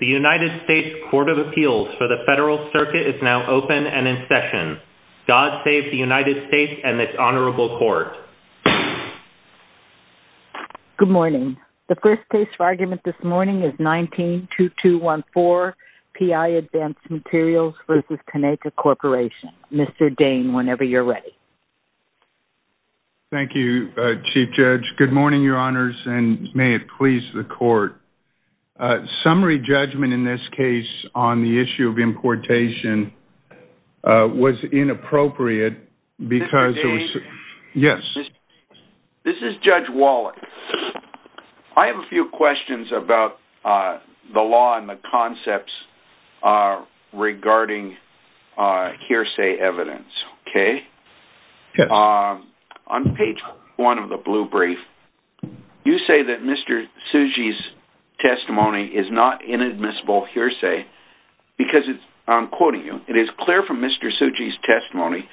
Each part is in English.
The United States Court of Appeals for the Federal Circuit is now open and in session. God save the United States and this Honorable Court. Good morning. The first case for argument this morning is 19-2214, PI Advanced Materials v. Kaneka Corporation. Mr. Dane, whenever you're ready. Thank you, Chief Judge. Good morning, Your Honors, and may it please the Court Summary judgment in this case on the issue of importation was inappropriate because... Mr. Dane? Yes. This is Judge Wallach. I have a few questions about the law and the concepts regarding hearsay evidence, okay? Yes. On page one of the blue brief, you say that Mr. Tsuji's testimony is not inadmissible hearsay because, I'm quoting you, it is clear from Mr. Tsuji's testimony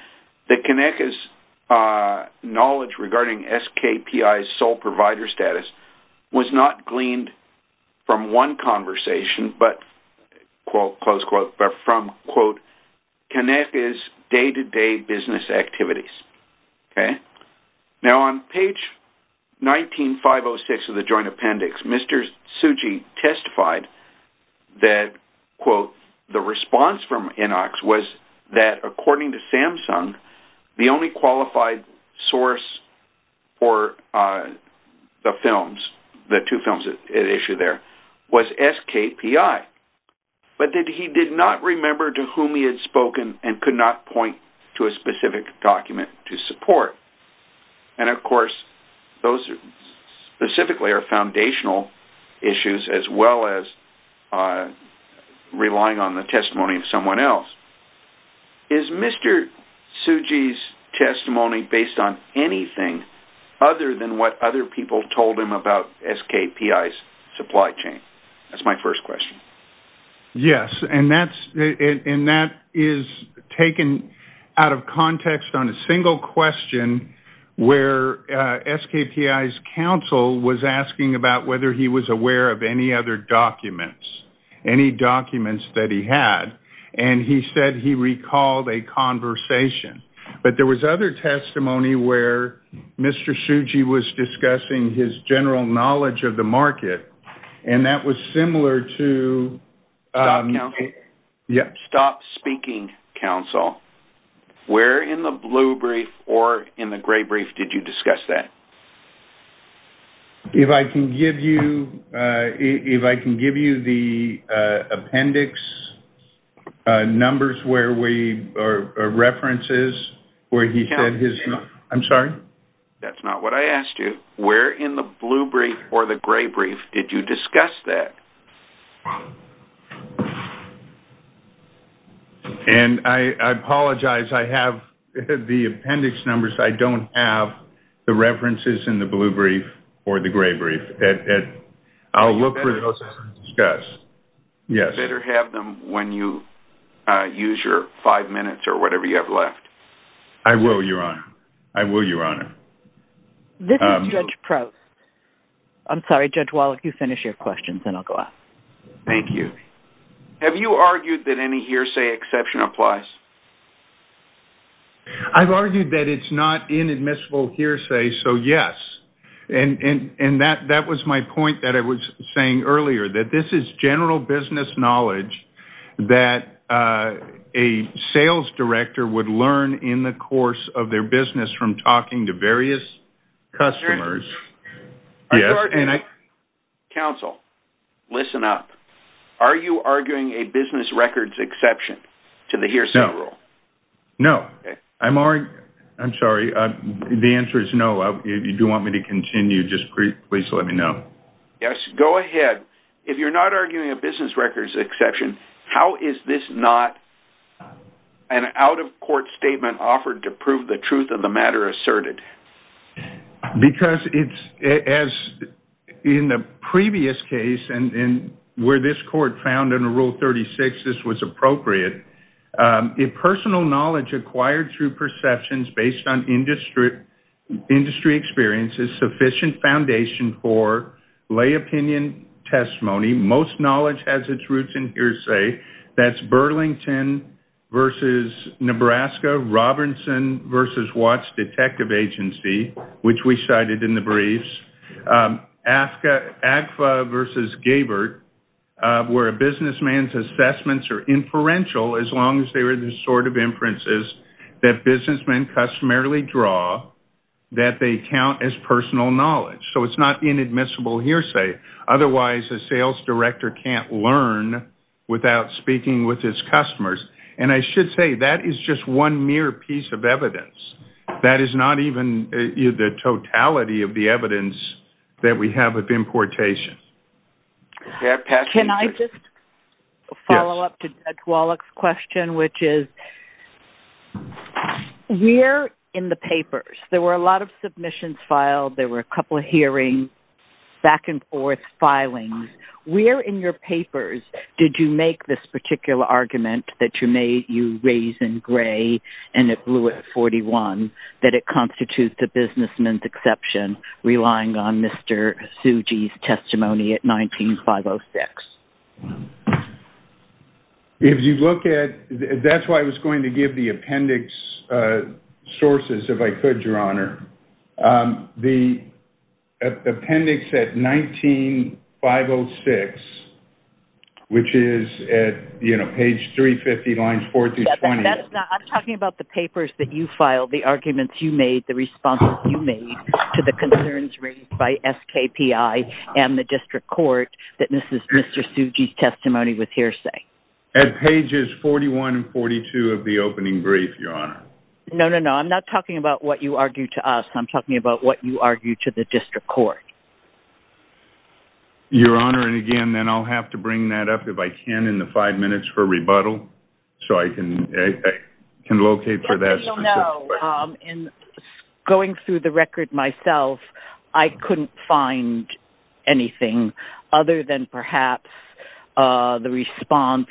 that Kaneka's knowledge regarding SKPI's sole provider status was not gleaned from one conversation, but, close quote, but from, quote, Kaneka's day-to-day business activities, okay? Now, on page 19-506 of the Joint Appendix, Mr. Tsuji testified that, quote, the response from Inox was that, according to Samsung, the only qualified source for the films, the two films at issue there, was SKPI, but that he did not remember to whom he had spoken and could not point to a specific document to support. And, of course, those specifically are foundational issues as well as relying on the testimony of someone else. Is Mr. Tsuji's testimony based on anything other than what other people told him about SKPI's supply chain? That's my first question. Yes, and that is taken out of context on a single question where SKPI's counsel was asking about whether he was aware of any other documents, any documents that he had, and he said he recalled a conversation. But there was other testimony where Mr. Tsuji was discussing his general knowledge of the market, and that was similar to— Stop speaking, counsel. Where in the blue brief or in the gray brief did you discuss that? If I can give you the appendix numbers where we— or references where he said his— I'm sorry? That's not what I asked you. Where in the blue brief or the gray brief did you discuss that? And I apologize. I have the appendix numbers. I don't have the references in the blue brief or the gray brief. I'll look for those and discuss. You better have them when you use your five minutes or whatever you have left. I will, Your Honor. I will, Your Honor. This is Judge Proust. I'm sorry, Judge Wall, if you finish your questions, then I'll go out. Thank you. Have you argued that any hearsay exception applies? I've argued that it's not inadmissible hearsay, so yes. And that was my point that I was saying earlier, that this is general business knowledge that a sales director would learn in the course of their business from talking to various customers. Counsel, listen up. Are you arguing a business records exception to the hearsay rule? No. No. I'm sorry. The answer is no. If you do want me to continue, just please let me know. Yes, go ahead. If you're not arguing a business records exception, how is this not an out-of-court statement offered to prove the truth of the matter asserted? Because it's as in the previous case and where this court found in Rule 36 this was appropriate, if personal knowledge acquired through perceptions based on industry experience is sufficient foundation for lay opinion testimony, most knowledge has its roots in hearsay. That's Burlington v. Nebraska, Robinson v. Watts Detective Agency, which we cited in the briefs, AGFA v. Gabert, where a businessman's assessments are inferential as long as they are the sort of inferences that businessmen customarily draw that they count as personal knowledge. So it's not inadmissible hearsay. Otherwise, a sales director can't learn without speaking with his customers. And I should say that is just one mere piece of evidence. That is not even the totality of the evidence that we have of importation. Can I just follow up to Judge Wallach's question, which is we're in the papers. There were a lot of submissions filed. There were a couple of hearings, back and forth, filings. Where in your papers did you make this particular argument that you raised in gray and it blew at 41, that it constitutes the businessman's exception, relying on Mr. Tsuji's testimony at 19-506? If you look at it, that's why I was going to give the appendix sources, if I could, Your Honor. The appendix at 19-506, which is at page 350, lines 4 through 20. I'm talking about the papers that you filed, the arguments you made, the responses you made to the concerns raised by SKPI and the district court that this is Mr. Tsuji's testimony with hearsay. At pages 41 and 42 of the opening brief, Your Honor. No, no, no. I'm not talking about what you argued to us. I'm talking about what you argued to the district court. Your Honor, and again, then I'll have to bring that up, if I can, in the five minutes for rebuttal, so I can locate for that specific question. Going through the record myself, I couldn't find anything other than perhaps the response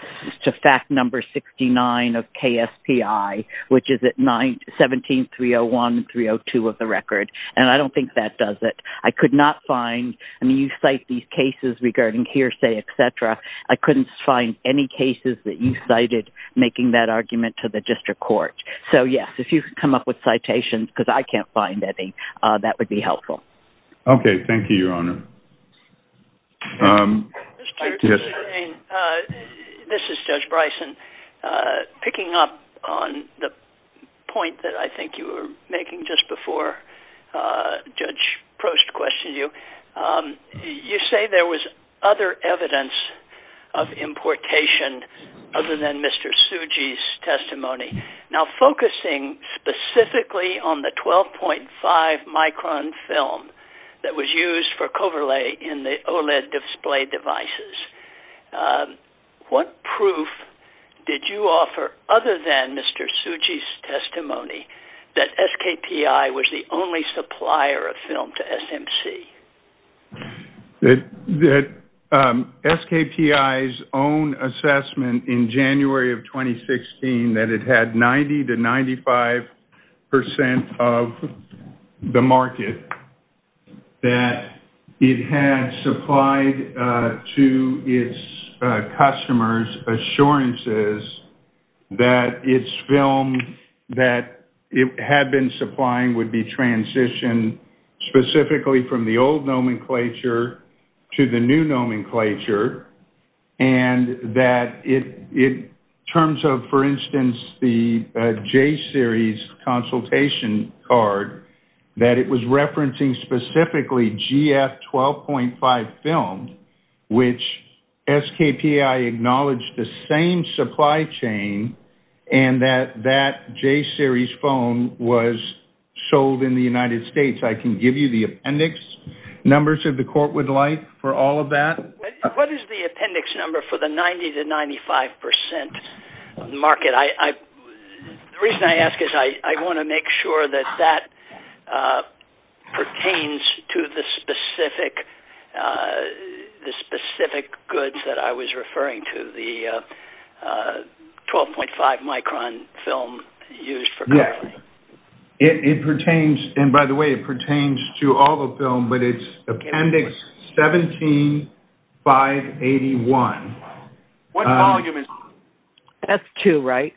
to fact number 69 of KSPI, which is at 17-301-302 of the record, and I don't think that does it. I could not find, I mean, you cite these cases regarding hearsay, et cetera. I couldn't find any cases that you cited making that argument to the district court. So, yes, if you could come up with citations, because I can't find any, that would be helpful. Okay, thank you, Your Honor. This is Judge Bryson. Picking up on the point that I think you were making just before Judge Prost questioned you, you say there was other evidence of importation other than Mr. Tsuji's testimony. Now, focusing specifically on the 12.5-micron film that was used for Coverlay in the OLED display devices, what proof did you offer other than Mr. Tsuji's testimony that SKPI was the only supplier of film to SMC? SKPI's own assessment in January of 2016 that it had 90-95% of the market, that it had supplied to its customers assurances that its film that it had been supplying would be transitioned specifically from the old nomenclature to the new nomenclature, and that in terms of, for instance, the J-Series consultation card, that it was referencing specifically GF 12.5 film, which SKPI acknowledged the same supply chain and that that J-Series film was sold in the United States. I can give you the appendix numbers that the court would like for all of that. What is the appendix number for the 90-95% market? The reason I ask is I want to make sure that that pertains to the specific goods that I was referring to, the 12.5-micron film used for Coverlay. It pertains, and by the way, it pertains to all the film, but it's appendix 17-581. What volume is it? That's two, right?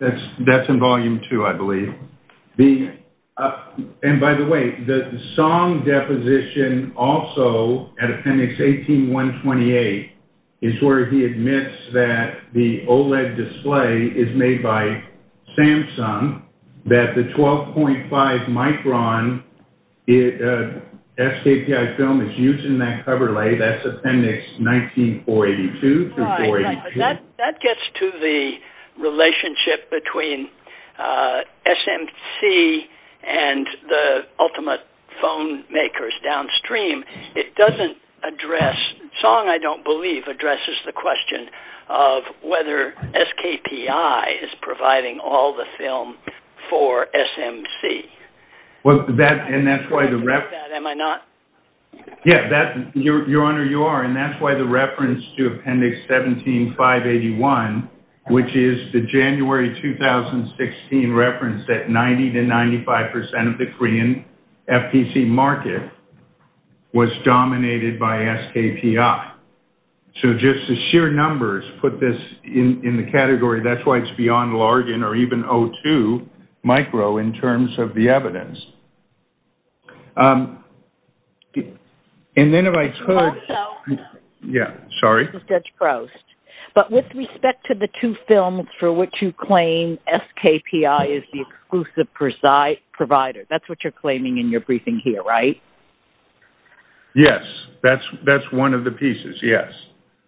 That's in volume two, I believe. And by the way, the song deposition also at appendix 18-128 is where he admits that the OLED display is made by Samsung, that the 12.5-micron SKPI film is used in that Coverlay. That's appendix 19-482. That gets to the relationship between SMC and the ultimate phone makers downstream. It doesn't address, the song, I don't believe, addresses the question of whether SKPI is providing all the film for SMC. Yes, Your Honor, you are, and that's why the reference to appendix 17-581, which is the January 2016 reference that 90 to 95% of the Korean FTC market was dominated by SKPI. So just the sheer numbers put this in the category. That's why it's beyond Largen or even O2 micro in terms of the evidence. And then if I could... Also... Yeah, sorry. This is Judge Grost. But with respect to the two films for which you claim SKPI is the exclusive provider, that's what you're claiming in your briefing here, right? Yes, that's one of the pieces, yes.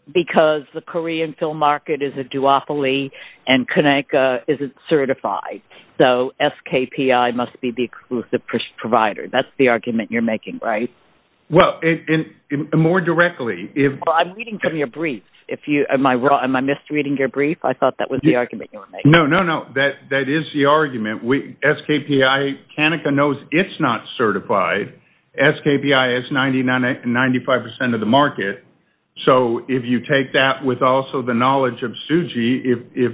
Because the Korean film market is a duopoly and Conecuh isn't certified. So SKPI must be the exclusive provider. That's the argument you're making, right? Well, more directly... Well, I'm reading from your brief. Am I misreading your brief? I thought that was the argument you were making. No, no, no, that is the argument. SKPI, Conecuh knows it's not certified. SKPI is 95% of the market. So if you take that with also the knowledge of Suji, if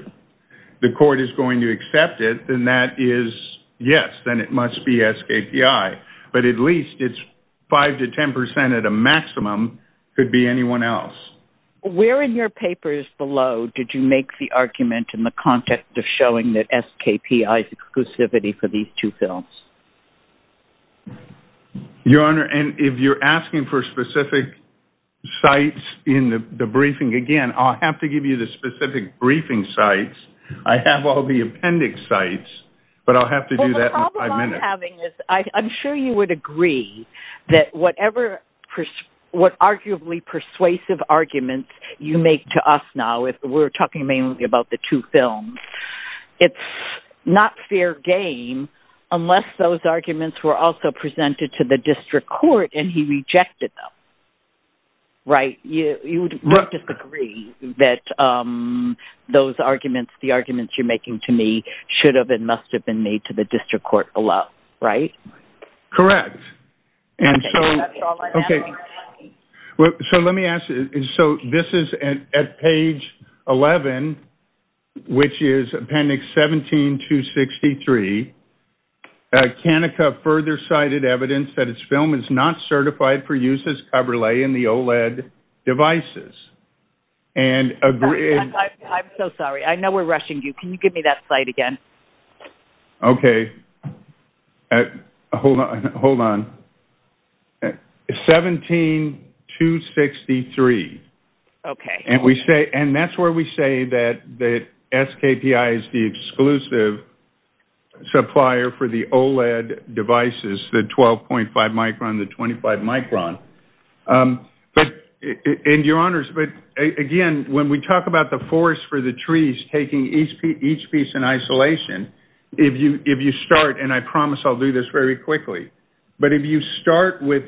the court is going to accept it, then that is yes, then it must be SKPI. But at least it's 5% to 10% at a maximum could be anyone else. Where in your papers below did you make the argument in the context of showing that SKPI is exclusivity for these two films? Your Honor, if you're asking for specific sites in the briefing, again, I'll have to give you the specific briefing sites. I have all the appendix sites, but I'll have to do that in five minutes. Well, the problem I'm having is I'm sure you would agree that whatever, what arguably persuasive arguments you make to us now, if we're talking mainly about the two films, it's not fair game unless those arguments were also presented to the district court and he rejected them, right? You would disagree that those arguments, the arguments you're making to me should have and must have been made to the district court below, right? Correct. Okay. So let me ask you. So this is at page 11, which is appendix 17-263. Kanika further cited evidence that its film is not certified for use as cover lay in the OLED devices. I'm so sorry. I know we're rushing you. Can you give me that slide again? Okay. Hold on. 17-263. Okay. And that's where we say that SKPI is the exclusive supplier for the OLED devices, the 12.5 micron, the 25 micron. And your honors, again, when we talk about the forest for the trees taking each piece in isolation, if you start, and I promise I'll do this very quickly, but if you start with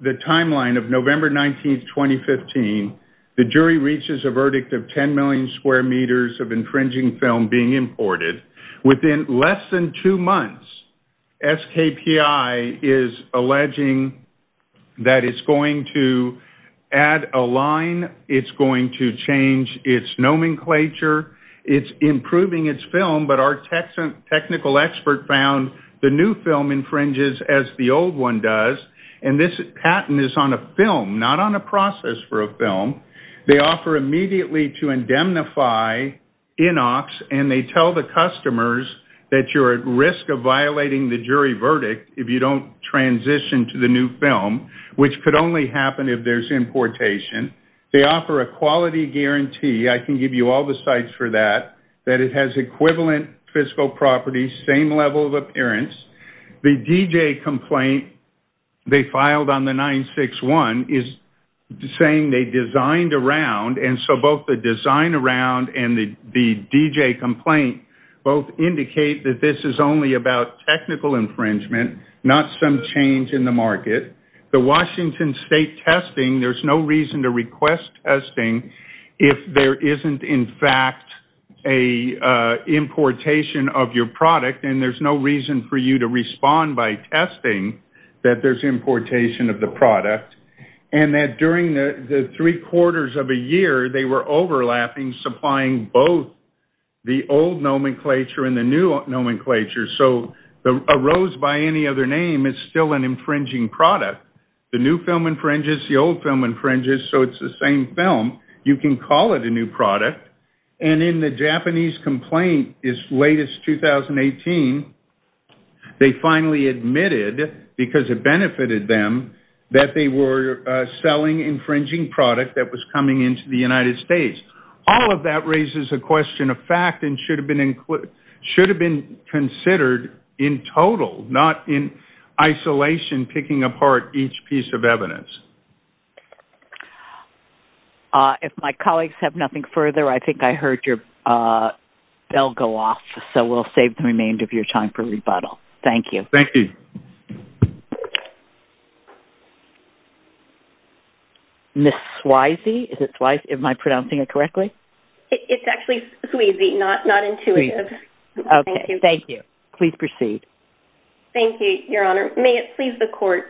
the timeline of November 19th, 2015, the jury reaches a verdict of 10 million square meters of infringing film being imported. Within less than two months, SKPI is alleging that it's going to add a line. It's going to change its nomenclature. It's improving its film, but our technical expert found the new film infringes as the old one does, and this patent is on a film, not on a process for a film. They offer immediately to indemnify Inox, and they tell the customers that you're at risk of violating the jury verdict if you don't transition to the new film, which could only happen if there's importation. They offer a quality guarantee. I can give you all the sites for that, that it has equivalent fiscal properties, same level of appearance. The DJ complaint they filed on the 961 is saying they designed around, and so both the design around and the DJ complaint both indicate that this is only about technical infringement, not some change in the market. The Washington State testing, there's no reason to request testing if there isn't in fact an importation of your product, and there's no reason for you to respond by testing that there's importation of the product, and that during the three-quarters of a year, they were overlapping, supplying both the old nomenclature and the new nomenclature, so a rose by any other name is still an infringing product. The new film infringes, the old film infringes, so it's the same film. You can call it a new product, and in the Japanese complaint, its latest 2018, they finally admitted, because it benefited them, that they were selling infringing product that was coming into the United States. All of that raises a question of fact and should have been considered in total, not in isolation picking apart each piece of evidence. If my colleagues have nothing further, I think I heard your bell go off, so we'll save the remainder of your time for rebuttal. Thank you. Thank you. Thank you. Ms. Swayze, is it Swayze? Am I pronouncing it correctly? It's actually Swayze, not intuitive. Okay, thank you. Please proceed. Thank you, Your Honor. May it please the Court.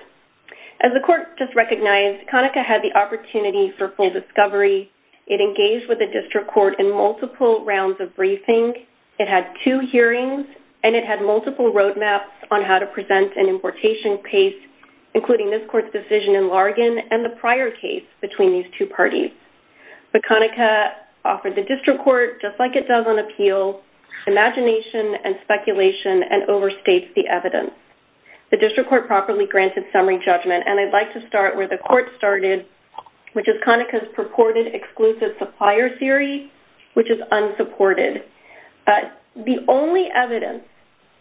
As the Court just recognized, Conaca had the opportunity for full discovery. It engaged with the District Court in multiple rounds of briefing. It had two hearings, and it had multiple roadmaps on how to present an importation case, including this Court's decision in Larigan and the prior case between these two parties. But Conaca offered the District Court, just like it does on appeal, imagination and speculation and overstates the evidence. The District Court properly granted summary judgment, and I'd like to start where the Court started, which is Conaca's purported exclusive supplier theory, which is unsupported. The only evidence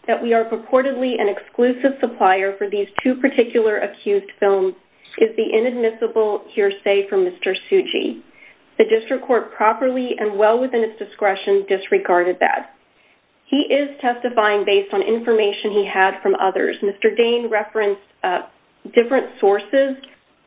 that we are purportedly an exclusive supplier for these two particular accused films is the inadmissible hearsay from Mr. Tsuji. The District Court properly and well within its discretion disregarded that. He is testifying based on information he had from others. Mr. Dane referenced different sources,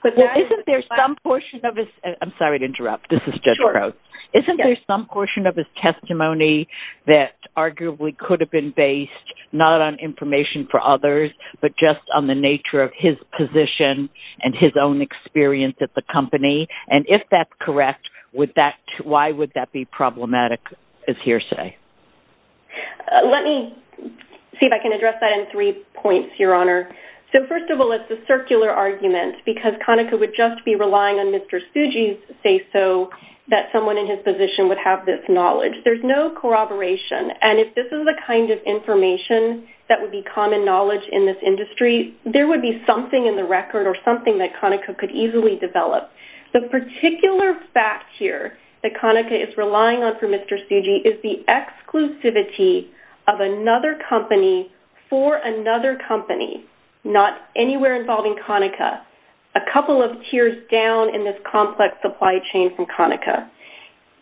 but that is... Well, isn't there some portion of his... I'm sorry to interrupt. This is Judge Crow. Isn't there some portion of his testimony that arguably could have been based not on information for others, but just on the nature of his position and his own experience at the company? And if that's correct, why would that be problematic as hearsay? Let me see if I can address that in three points, Your Honor. So, first of all, it's a circular argument because Conaca would just be relying on Mr. Tsuji's say-so that someone in his position would have this knowledge. There's no corroboration. And if this is the kind of information that would be common knowledge in this industry, there would be something in the record or something that Conaca could easily develop. The particular fact here that Conaca is relying on for Mr. Tsuji is the exclusivity of another company for another company, not anywhere involving Conaca. A couple of tiers down in this complex supply chain from Conaca.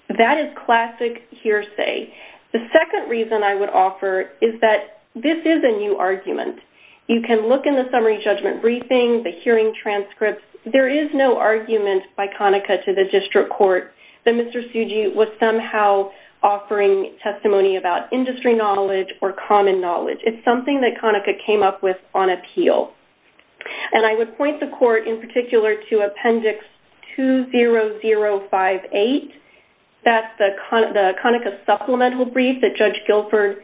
That is classic hearsay. The second reason I would offer is that this is a new argument. You can look in the summary judgment briefing, the hearing transcripts. There is no argument by Conaca to the district court that Mr. Tsuji was somehow offering testimony about industry knowledge or common knowledge. It's something that Conaca came up with on appeal. And I would point the court in particular to Appendix 20058. That's the Conaca supplemental brief that Judge Guilford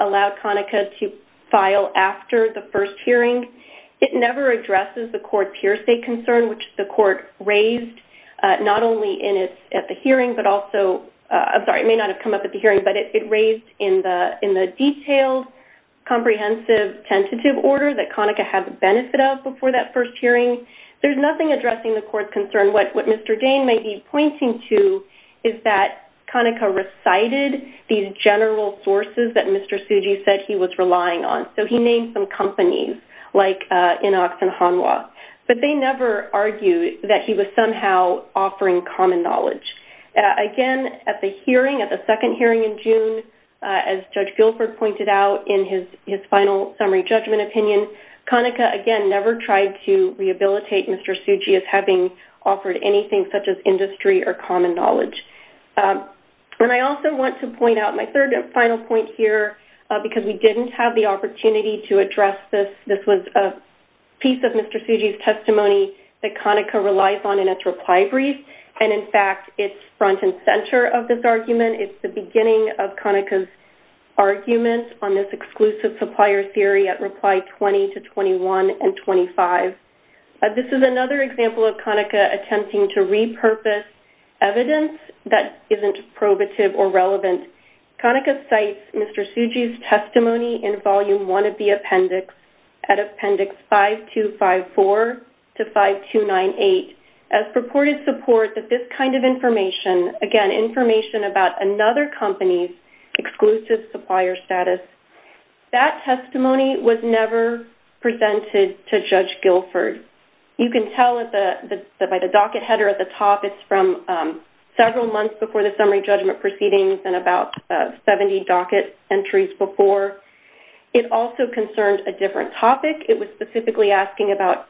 allowed Conaca to file after the first hearing. It never addresses the court's hearsay concern, which the court raised not only at the hearing but also... I'm sorry, it may not have come up at the hearing, but it raised in the detailed comprehensive tentative order that Conaca had the benefit of before that first hearing. There's nothing addressing the court's concern. What Mr. Dane may be pointing to is that Conaca recited these general sources that Mr. Tsuji said he was relying on. So he named some companies like Inox and Hanwha. But they never argued that he was somehow offering common knowledge. Again, at the hearing, at the second hearing in June, as Judge Guilford pointed out in his final summary judgment opinion, Conaca, again, never tried to rehabilitate Mr. Tsuji as having offered anything such as industry or common knowledge. And I also want to point out my third and final point here, because we didn't have the opportunity to address this. This was a piece of Mr. Tsuji's testimony that Conaca relies on in its reply brief. And, in fact, it's front and centre of this argument. It's the beginning of Conaca's argument on this exclusive supplier theory at reply 20 to 21 and 25. This is another example of Conaca attempting to repurpose evidence that isn't probative or relevant. Conaca cites Mr. Tsuji's testimony in volume 1 of the appendix at appendix 5254 to 5298 as purported support that this kind of information, again, information about another company's exclusive supplier status. That testimony was never presented to Judge Guilford. You can tell by the docket header at the top. It's from several months before the summary judgment proceedings and about 70 docket entries before. It also concerned a different topic. It was specifically asking about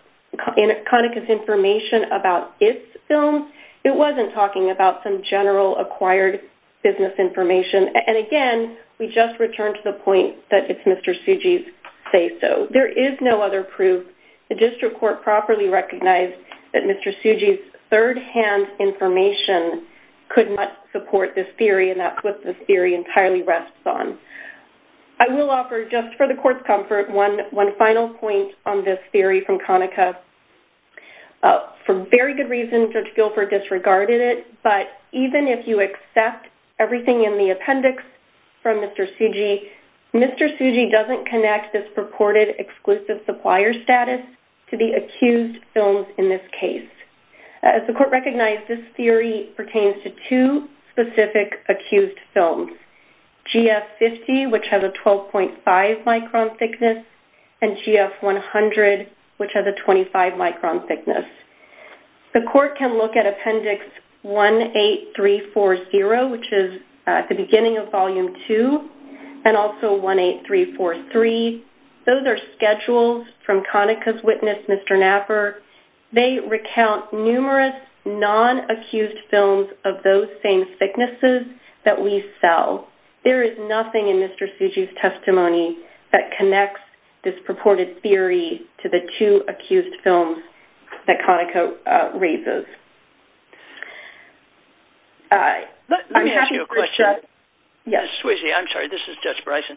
Conaca's information about its films. It wasn't talking about some general acquired business information. And, again, we just return to the point that it's Mr. Tsuji's say-so. There is no other proof the district court properly recognized that Mr. Tsuji's third-hand information could not support this theory and that's what this theory entirely rests on. I will offer, just for the Court's comfort, one final point on this theory from Conaca. For very good reasons, Judge Guilford disregarded it, but even if you accept everything in the appendix from Mr. Tsuji, Mr. Tsuji doesn't connect this purported exclusive supplier status to the accused films in this case. As the Court recognized, this theory pertains to two specific accused films, GF50, which has a 12.5-micron thickness, and GF100, which has a 25-micron thickness. The Court can look at Appendix 18340, which is at the beginning of Volume 2, and also 18343. Those are schedules from Conaca's witness, Mr. Knapper. They recount numerous non-accused films of those same thicknesses that we sell. There is nothing in Mr. Tsuji's testimony that connects this purported theory to the two accused films that Conaca raises. Let me ask you a question. Ms. Tsuji, I'm sorry, this is Judge Bryson.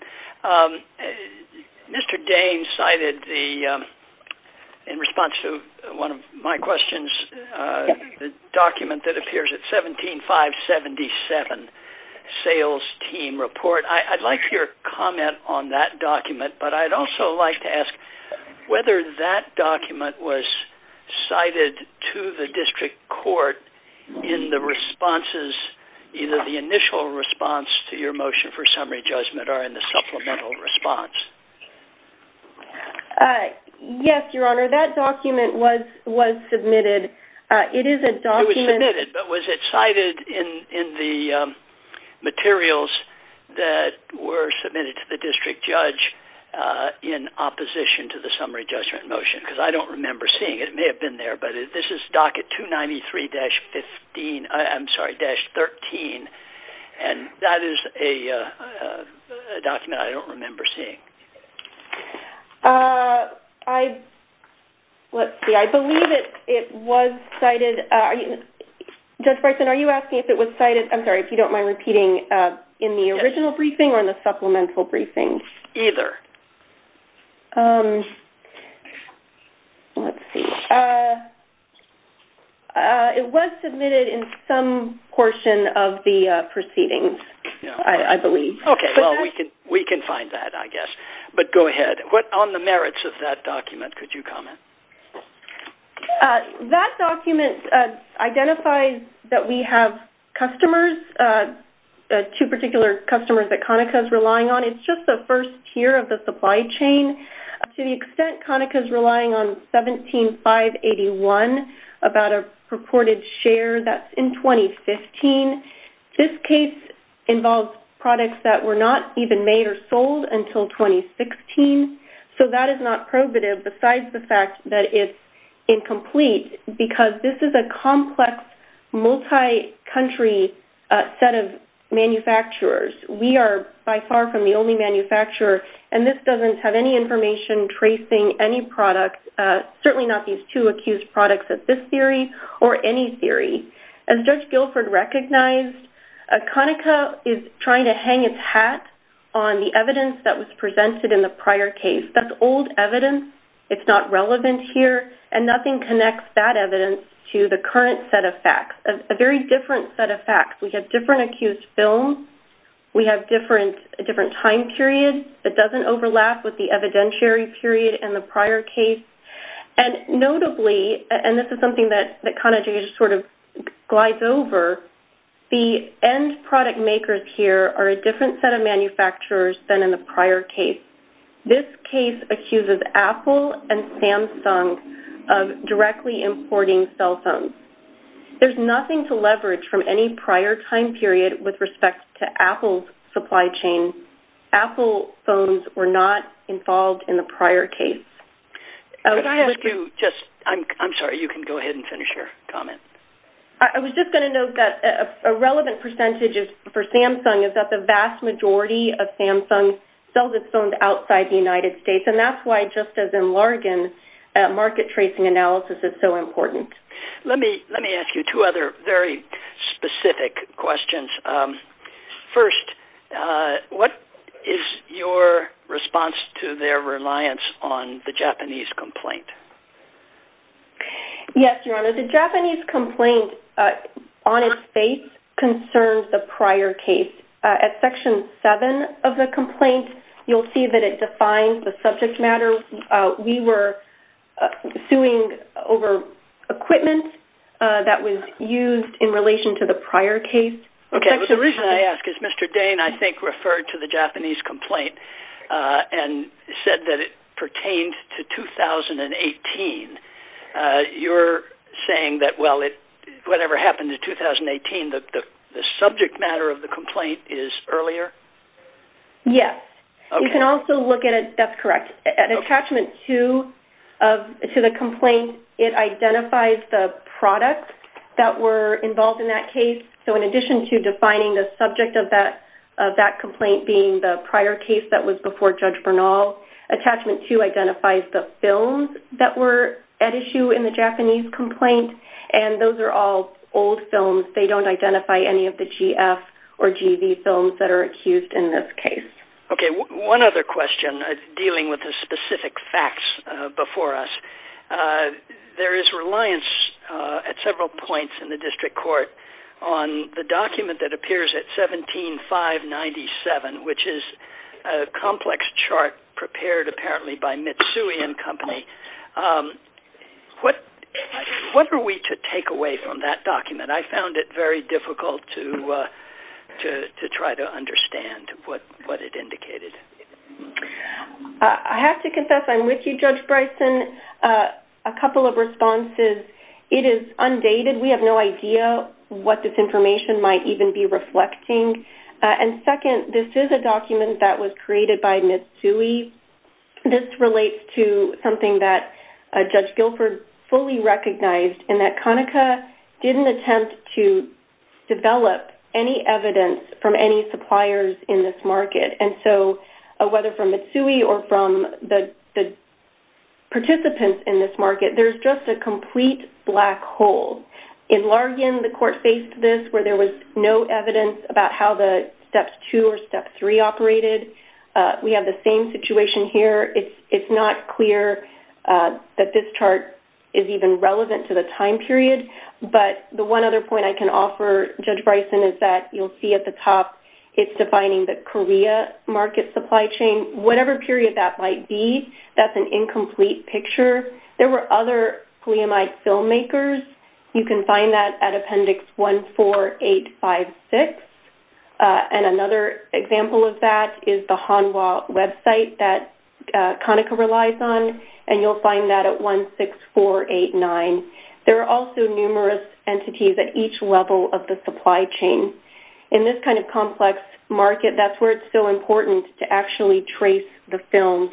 Mr. Dane cited, in response to one of my questions, the document that appears at 17-577, Sales Team Report. I'd like your comment on that document, but I'd also like to ask whether that document was cited to the District Court in the responses, either the initial response to your motion for summary judgment or in the supplemental response. Yes, Your Honor, that document was submitted. It is a document... It was submitted, but was it cited in the materials that were submitted to the District Judge in opposition to the summary judgment motion? Because I don't remember seeing it. It may have been there, but this is Docket 293-13, and that is a document I don't remember seeing. Let's see. I believe it was cited. Judge Bryson, are you asking if it was cited? I'm sorry, if you don't mind repeating. In the original briefing or in the supplemental briefing? Either. Let's see. It was submitted in some portion of the proceedings, I believe. Okay. Well, we can find that, I guess. But go ahead. On the merits of that document, could you comment? That document identifies that we have customers, two particular customers that Conaca is relying on. It's just the first tier of the supply chain. To the extent Conaca is relying on $17,581, about a purported share, that's in 2015. This case involves products that were not even made or sold until 2016, so that is not probative besides the fact that it's incomplete because this is a complex, multi-country set of manufacturers. We are by far from the only manufacturer, and this doesn't have any information tracing any product, certainly not these two accused products of this theory or any theory. As Judge Guilford recognized, Conaca is trying to hang its hat on the evidence that was presented in the prior case. That's old evidence. It's not relevant here, and nothing connects that evidence to the current set of facts, a very different set of facts. We have different accused films. We have different time periods. It doesn't overlap with the evidentiary period in the prior case. Notably, and this is something that kind of glides over, the end product makers here are a different set of manufacturers than in the prior case. This case accuses Apple and Samsung of directly importing cell phones. There's nothing to leverage from any prior time period with respect to Apple's supply chain. Apple phones were not involved in the prior case. I'm sorry. You can go ahead and finish your comment. I was just going to note that a relevant percentage for Samsung is that the vast majority of Samsung sells its phones outside the United States, and that's why just as in Larigan, market tracing analysis is so important. Let me ask you two other very specific questions. First, what is your response to their reliance on the Japanese complaint? Yes, Your Honor, the Japanese complaint on its face concerns the prior case. At Section 7 of the complaint, you'll see that it defines the subject matter. We were suing over equipment that was used in relation to the prior case. Okay. The reason I ask is Mr. Dane, I think, referred to the Japanese complaint and said that it pertained to 2018. You're saying that, well, whatever happened in 2018, the subject matter of the complaint is earlier? Yes. You can also look at it. That's correct. At Attachment 2 to the complaint, it identifies the products that were involved in that case. In addition to defining the subject of that complaint being the prior case that was before Judge Bernal, Attachment 2 identifies the films that were at issue in the Japanese complaint, and those are all old films. They don't identify any of the GF or GV films that are accused in this case. Okay. One other question dealing with the specific facts before us. There is reliance at several points in the district court on the document that appears at 17597, which is a complex chart prepared apparently by Mitsui and Company. I found it very difficult to try to understand what it indicated. I have to confess I'm with you, Judge Bryson. A couple of responses. It is undated. We have no idea what this information might even be reflecting. Second, this is a document that was created by Mitsui. This relates to something that Judge Guilford fully recognized, in that Conaca didn't attempt to develop any evidence from any suppliers in this market, and so whether from Mitsui or from the participants in this market, there's just a complete black hole. In Largin, the court faced this where there was no evidence about how the Steps 2 or Step 3 operated. We have the same situation here. It's not clear that this chart is even relevant to the time period, but the one other point I can offer Judge Bryson is that you'll see at the top, it's defining the Korea market supply chain. Whatever period that might be, that's an incomplete picture. There were other polyamide filmmakers. You can find that at Appendix 14856. Another example of that is the Hanwha website that Conaca relies on, and you'll find that at 16489. There are also numerous entities at each level of the supply chain. In this kind of complex market, that's where it's so important to actually trace the film,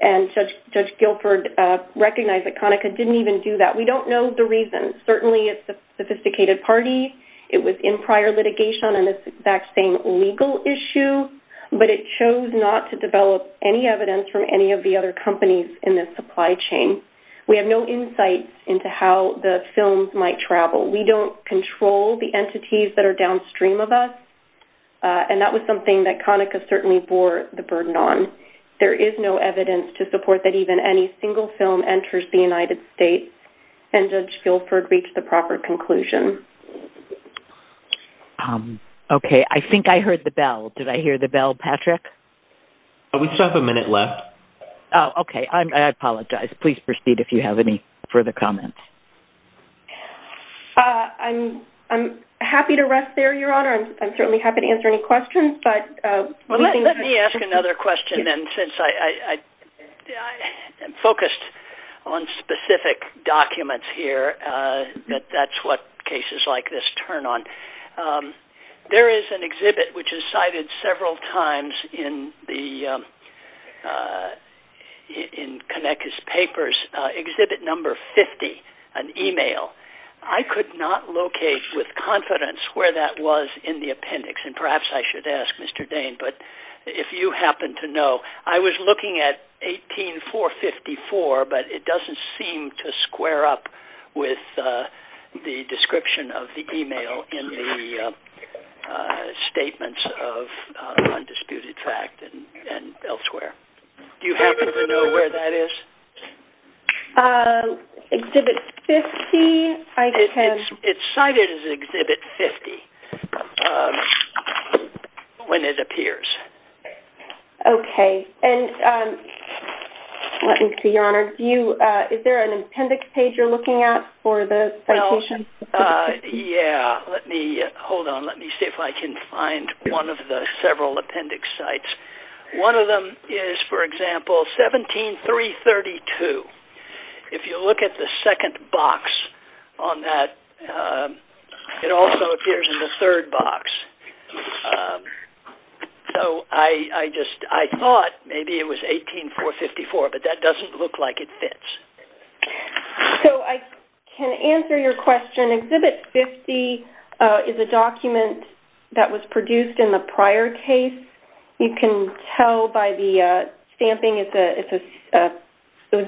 and Judge Guilford recognized that Conaca didn't even do that. We don't know the reason. Certainly, it's a sophisticated party. It was in prior litigation on this exact same legal issue, but it chose not to develop any evidence from any of the other companies in this supply chain. We have no insights into how the films might travel. We don't control the entities that are downstream of us, and that was something that Conaca certainly bore the burden on. There is no evidence to support that even any single film enters the United States, and Judge Guilford reached the proper conclusion. Okay. I think I heard the bell. Did I hear the bell, Patrick? We still have a minute left. Okay. I apologize. Please proceed if you have any further comments. I'm happy to rest there, Your Honor. I'm certainly happy to answer any questions. Let me ask another question, then, since I am focused on specific documents here that that's what cases like this turn on. There is an exhibit which is cited several times in Conaca's papers, exhibit number 50, an email. I could not locate with confidence where that was in the appendix, and perhaps I should ask Mr. Dane, but if you happen to know. I was looking at 18454, but it doesn't seem to square up with the description of the email in the statements of Undisputed Fact and elsewhere. Do you happen to know where that is? Exhibit 50? It's cited as exhibit 50. When it appears. Okay. Let me see, Your Honor. Is there an appendix page you're looking at for the citation? Yeah. Hold on. Let me see if I can find one of the several appendix sites. One of them is, for example, 17332. If you look at the second box on that, it also appears in the third box. So I just thought maybe it was 18454, but that doesn't look like it fits. So I can answer your question. Exhibit 50 is a document that was produced in the prior case. You can tell by the stamping, it's a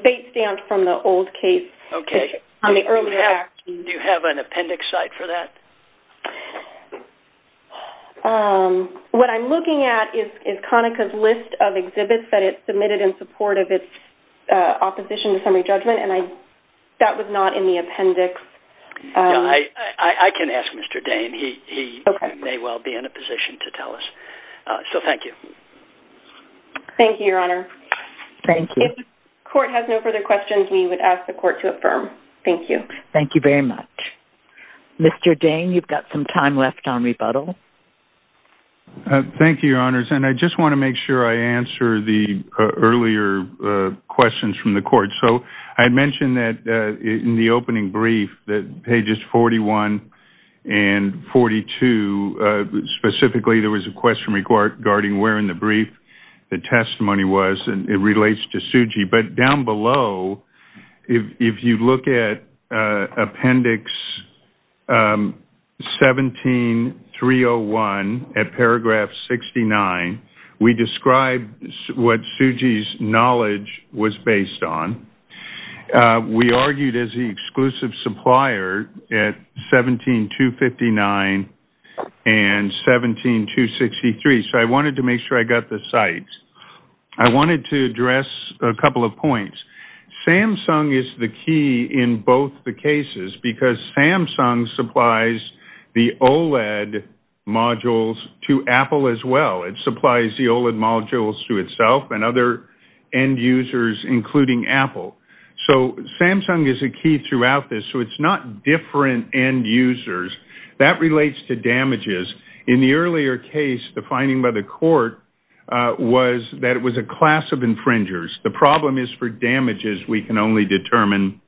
date stamp from the old case. Okay. Do you have an appendix site for that? What I'm looking at is CONICA's list of exhibits that it submitted in support of its opposition to summary judgment, and that was not in the appendix. I can ask Mr. Dane. He may well be in a position to tell us. So thank you. Thank you, Your Honor. Thank you. If the court has no further questions, we would ask the court to affirm. Thank you. Thank you very much. Mr. Dane, you've got some time left on rebuttal. Thank you, Your Honors, and I just want to make sure I answer the earlier questions from the court. So I mentioned that in the opening brief, pages 41 and 42, specifically there was a question regarding where in the brief the testimony was, and it relates to Suji, but down below, if you look at appendix 17301 at paragraph 69, we describe what Suji's knowledge was based on. We argued as the exclusive supplier at 17259 and 17263, so I wanted to make sure I got the sites. I wanted to address a couple of points. Samsung is the key in both the cases because Samsung supplies the OLED modules to Apple as well. It supplies the OLED modules to itself and other end users, including Apple. So Samsung is a key throughout this, so it's not different end users. That relates to damages. In the earlier case, the finding by the court was that it was a class of infringers. The problem is for damages, we can only determine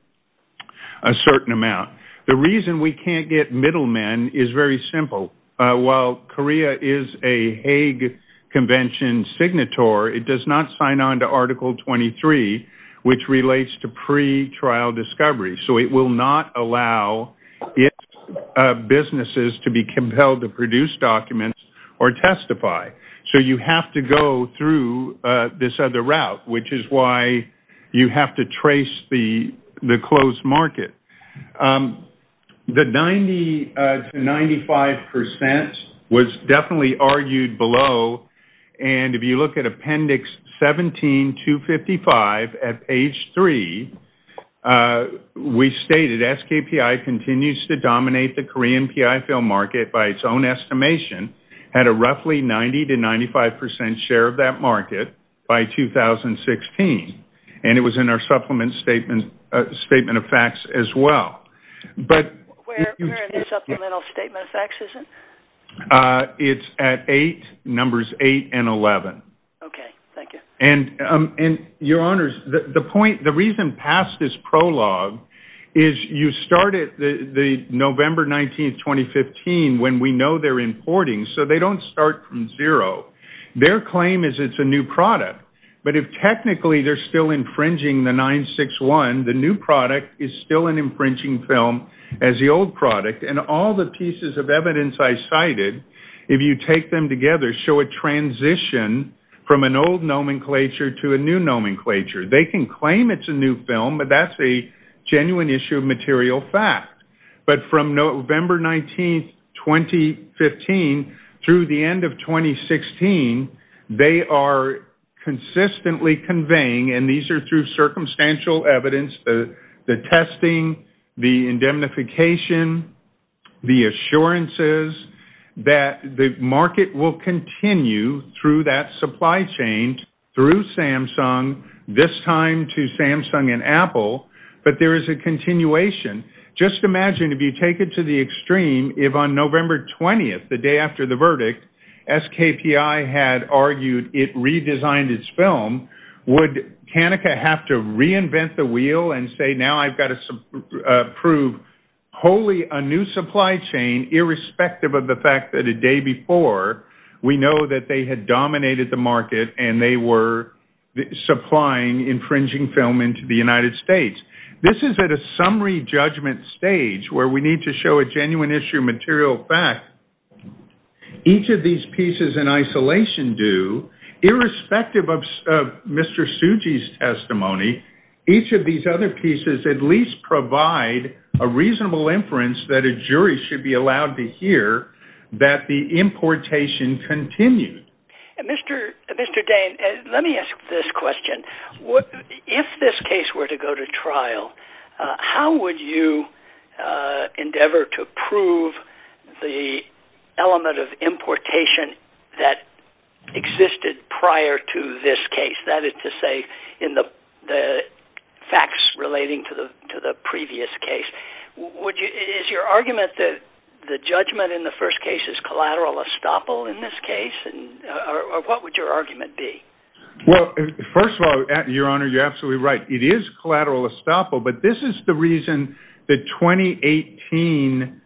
a certain amount. The reason we can't get middlemen is very simple. While Korea is a Hague Convention signator, it does not sign on to Article 23, which relates to pretrial discovery, so it will not allow its businesses to be compelled to produce documents or testify. So you have to go through this other route, which is why you have to trace the closed market. The 90 to 95% was definitely argued below, and if you look at Appendix 17255 at page 3, we stated SKPI continues to dominate the Korean P.I. film market by its own estimation, had a roughly 90 to 95% share of that market by 2016, and it was in our supplement statement of facts as well. Where in the supplemental statement of facts is it? It's at 8, numbers 8 and 11. Okay, thank you. And, Your Honors, the point, the reason past this prologue is you started November 19, 2015 when we know they're importing, so they don't start from zero. Their claim is it's a new product, but if technically they're still infringing the 961, the new product is still an infringing film as the old product, and all the pieces of evidence I cited, if you take them together, show a transition from an old nomenclature to a new nomenclature. They can claim it's a new film, but that's a genuine issue of material fact. But from November 19, 2015 through the end of 2016, they are consistently conveying, and these are through circumstantial evidence, the testing, the indemnification, the assurances, that the market will continue through that supply chain, through Samsung, this time to Samsung and Apple, but there is a continuation. Just imagine if you take it to the extreme, if on November 20, the day after the verdict, SKPI had argued it redesigned its film, would Canica have to reinvent the wheel and say, now I've got to prove wholly a new supply chain, irrespective of the fact that a day before, we know that they had dominated the market and they were supplying infringing film into the United States. This is at a summary judgment stage where we need to show a genuine issue of material fact. Each of these pieces in isolation do, irrespective of Mr. Tsuji's testimony, each of these other pieces at least provide a reasonable inference that a jury should be allowed to hear that the importation continued. Mr. Dane, let me ask this question. If this case were to go to trial, how would you endeavor to prove the element of importation that existed prior to this case? That is to say, in the facts relating to the previous case. Is your argument that the judgment in the first case is collateral estoppel in this case? Or what would your argument be? Well, first of all, Your Honor, you're absolutely right. It is collateral estoppel, but this is the reason the 2018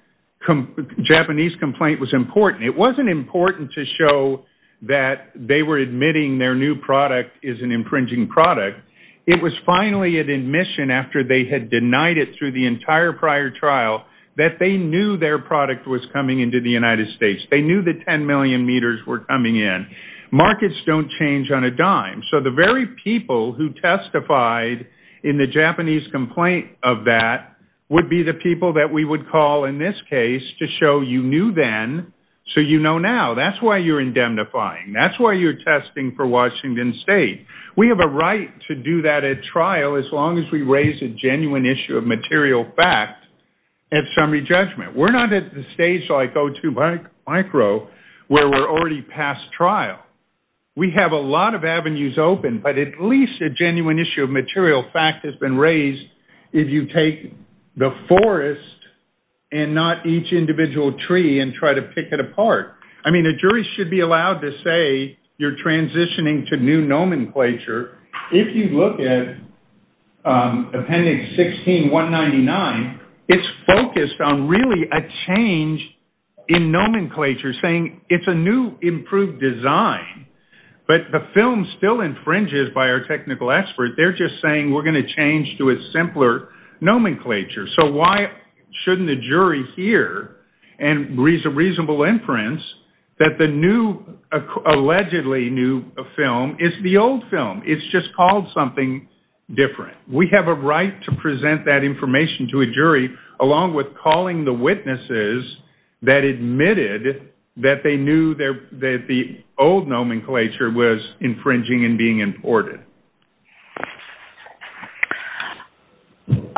Japanese complaint was important. It wasn't important to show that they were admitting their new product is an infringing product. It was finally at admission after they had denied it through the entire prior trial that they knew their product was coming into the United States. They knew that 10 million meters were coming in. Markets don't change on a dime. So the very people who testified in the Japanese complaint of that would be the people that we would call in this case to show you knew then so you know now. That's why you're indemnifying. That's why you're testing for Washington State. We have a right to do that at trial as long as we raise a genuine issue of material fact at summary judgment. We're not at the stage like O2 Micro where we're already past trial. We have a lot of avenues open, but at least a genuine issue of material fact has been raised if you take the forest and not each individual tree and try to pick it apart. I mean a jury should be allowed to say you're transitioning to new nomenclature. If you look at appendix 16199, it's focused on really a change in nomenclature saying it's a new improved design, but the film still infringes by our technical expert. They're just saying we're going to change to a simpler nomenclature. So why shouldn't the jury hear and raise a reasonable inference that the new allegedly new film is the old film. It's just called something different. We have a right to present that information to a jury along with calling the witnesses that admitted that they knew that the old nomenclature was infringing and being imported.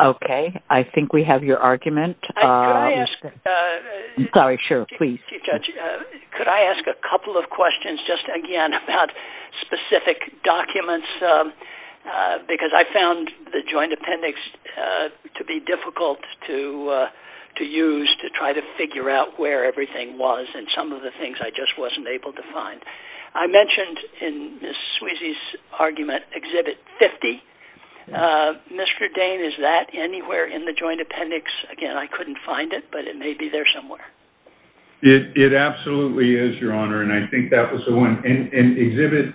Okay. I think we have your argument. Could I ask a couple of questions just again about specific documents because I found the joint appendix to be difficult to use to try to figure out where everything was and some of the things I just wasn't able to find. I mentioned in Ms. Sweezy's argument Exhibit 50. Mr. Dane, is that anywhere in the joint appendix? Again, I couldn't find it, but it may be there somewhere. It absolutely is, Your Honor, and I think that was the one. Exhibit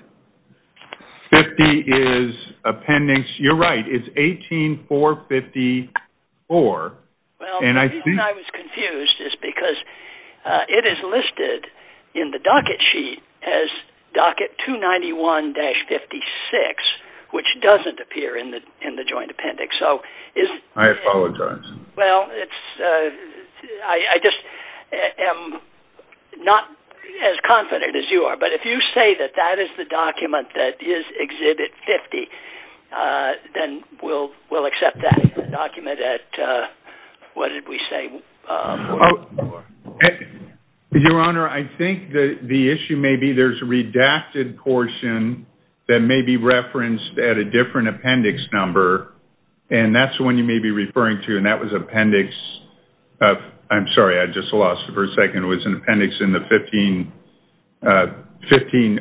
50 is appendix, you're right, it's 18454. The reason I was confused is because it is listed in the docket sheet as docket 291-56, which doesn't appear in the joint appendix. I apologize. Well, I just am not as confident as you are, but if you say that that is the document that is Exhibit 50, then we'll accept that document at, what did we say? Your Honor, I think the issue may be there's a redacted portion that may be referenced at a different appendix number, and that's the one you may be referring to, and that was appendix, I'm sorry, I just lost it for a second. It was an appendix in the 15086.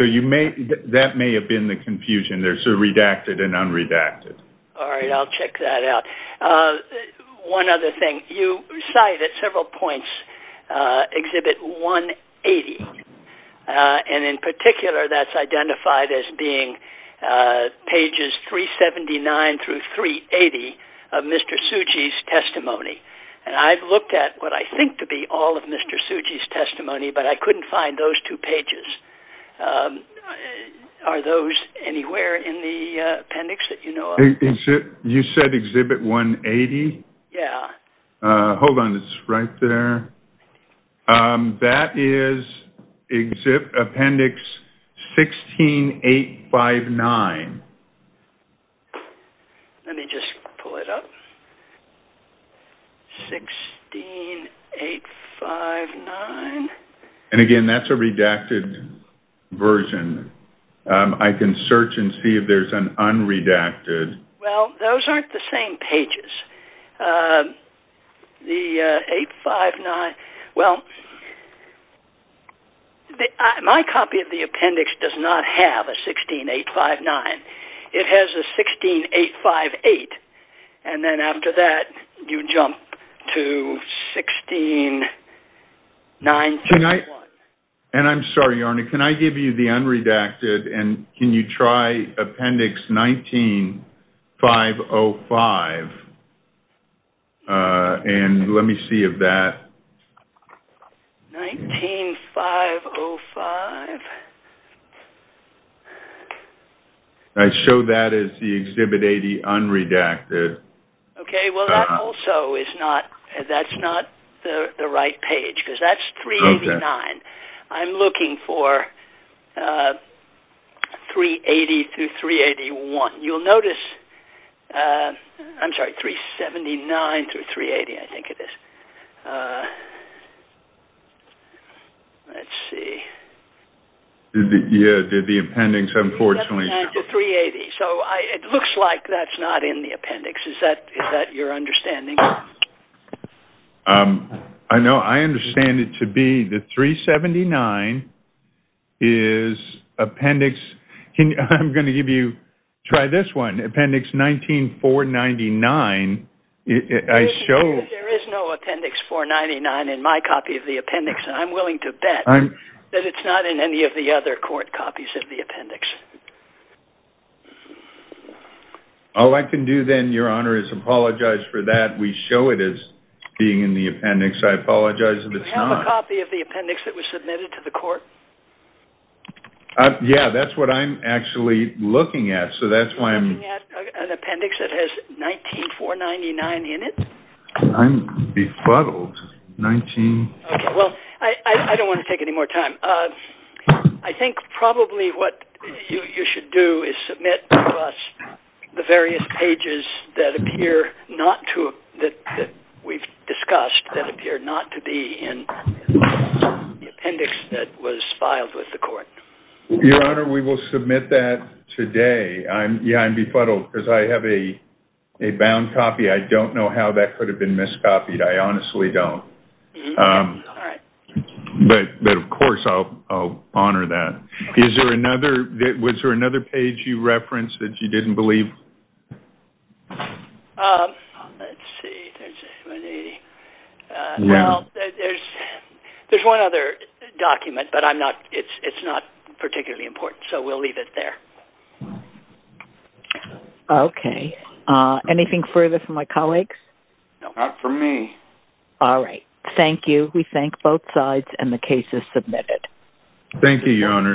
So that may have been the confusion. There's a redacted and unredacted. All right, I'll check that out. One other thing, you cite at several points Exhibit 180, and in particular that's identified as being pages 379-380 of Mr. Tsuji's testimony, and I've looked at what I think to be all of Mr. Tsuji's testimony, but I couldn't find those two pages. Are those anywhere in the appendix that you know of? You said Exhibit 180? Yeah. Hold on, it's right there. That is Appendix 16859. Let me just pull it up. 16859. And again, that's a redacted version. I can search and see if there's an unredacted. Well, those aren't the same pages. The 859, well, my copy of the appendix does not have a 16859. It has a 16858, and then after that you jump to 16921. And I'm sorry, Arnie, can I give you the unredacted and can you try Appendix 19505, and let me see of that. 19505. I showed that as the Exhibit 80 unredacted. Okay, well, that also is not, that's not the right page, because that's 389. I'm looking for 380 through 381. You'll notice, I'm sorry, 379 through 380, I think it is. Let's see. Yeah, the appendix, unfortunately. 379 through 380. So it looks like that's not in the appendix. Is that your understanding? No, I understand it to be the 379 is appendix. I'm going to give you, try this one, Appendix 19499. There is no Appendix 499 in my copy of the appendix, and I'm willing to bet that it's not in any of the other court copies of the appendix. All I can do then, Your Honor, is apologize for that. We show it as being in the appendix. I apologize if it's not. Do you have a copy of the appendix that was submitted to the court? Yeah, that's what I'm actually looking at. Are you looking at an appendix that has 19499 in it? I'm befuddled. Okay, well, I don't want to take any more time. I think probably what you should do is submit to us the various pages that appear not to, that we've discussed that appear not to be in the appendix that was filed with the court. Your Honor, we will submit that today. Yeah, I'm befuddled because I have a bound copy. I don't know how that could have been miscopied. I honestly don't. All right. But, of course, I'll honor that. Is there another, was there another page you referenced that you didn't believe? Let's see. Well, there's one other document, but it's not particularly important, so we'll leave it there. Okay. Anything further from my colleagues? Not from me. All right. Thank you. We thank both sides, and the case is submitted. Thank you, Your Honor.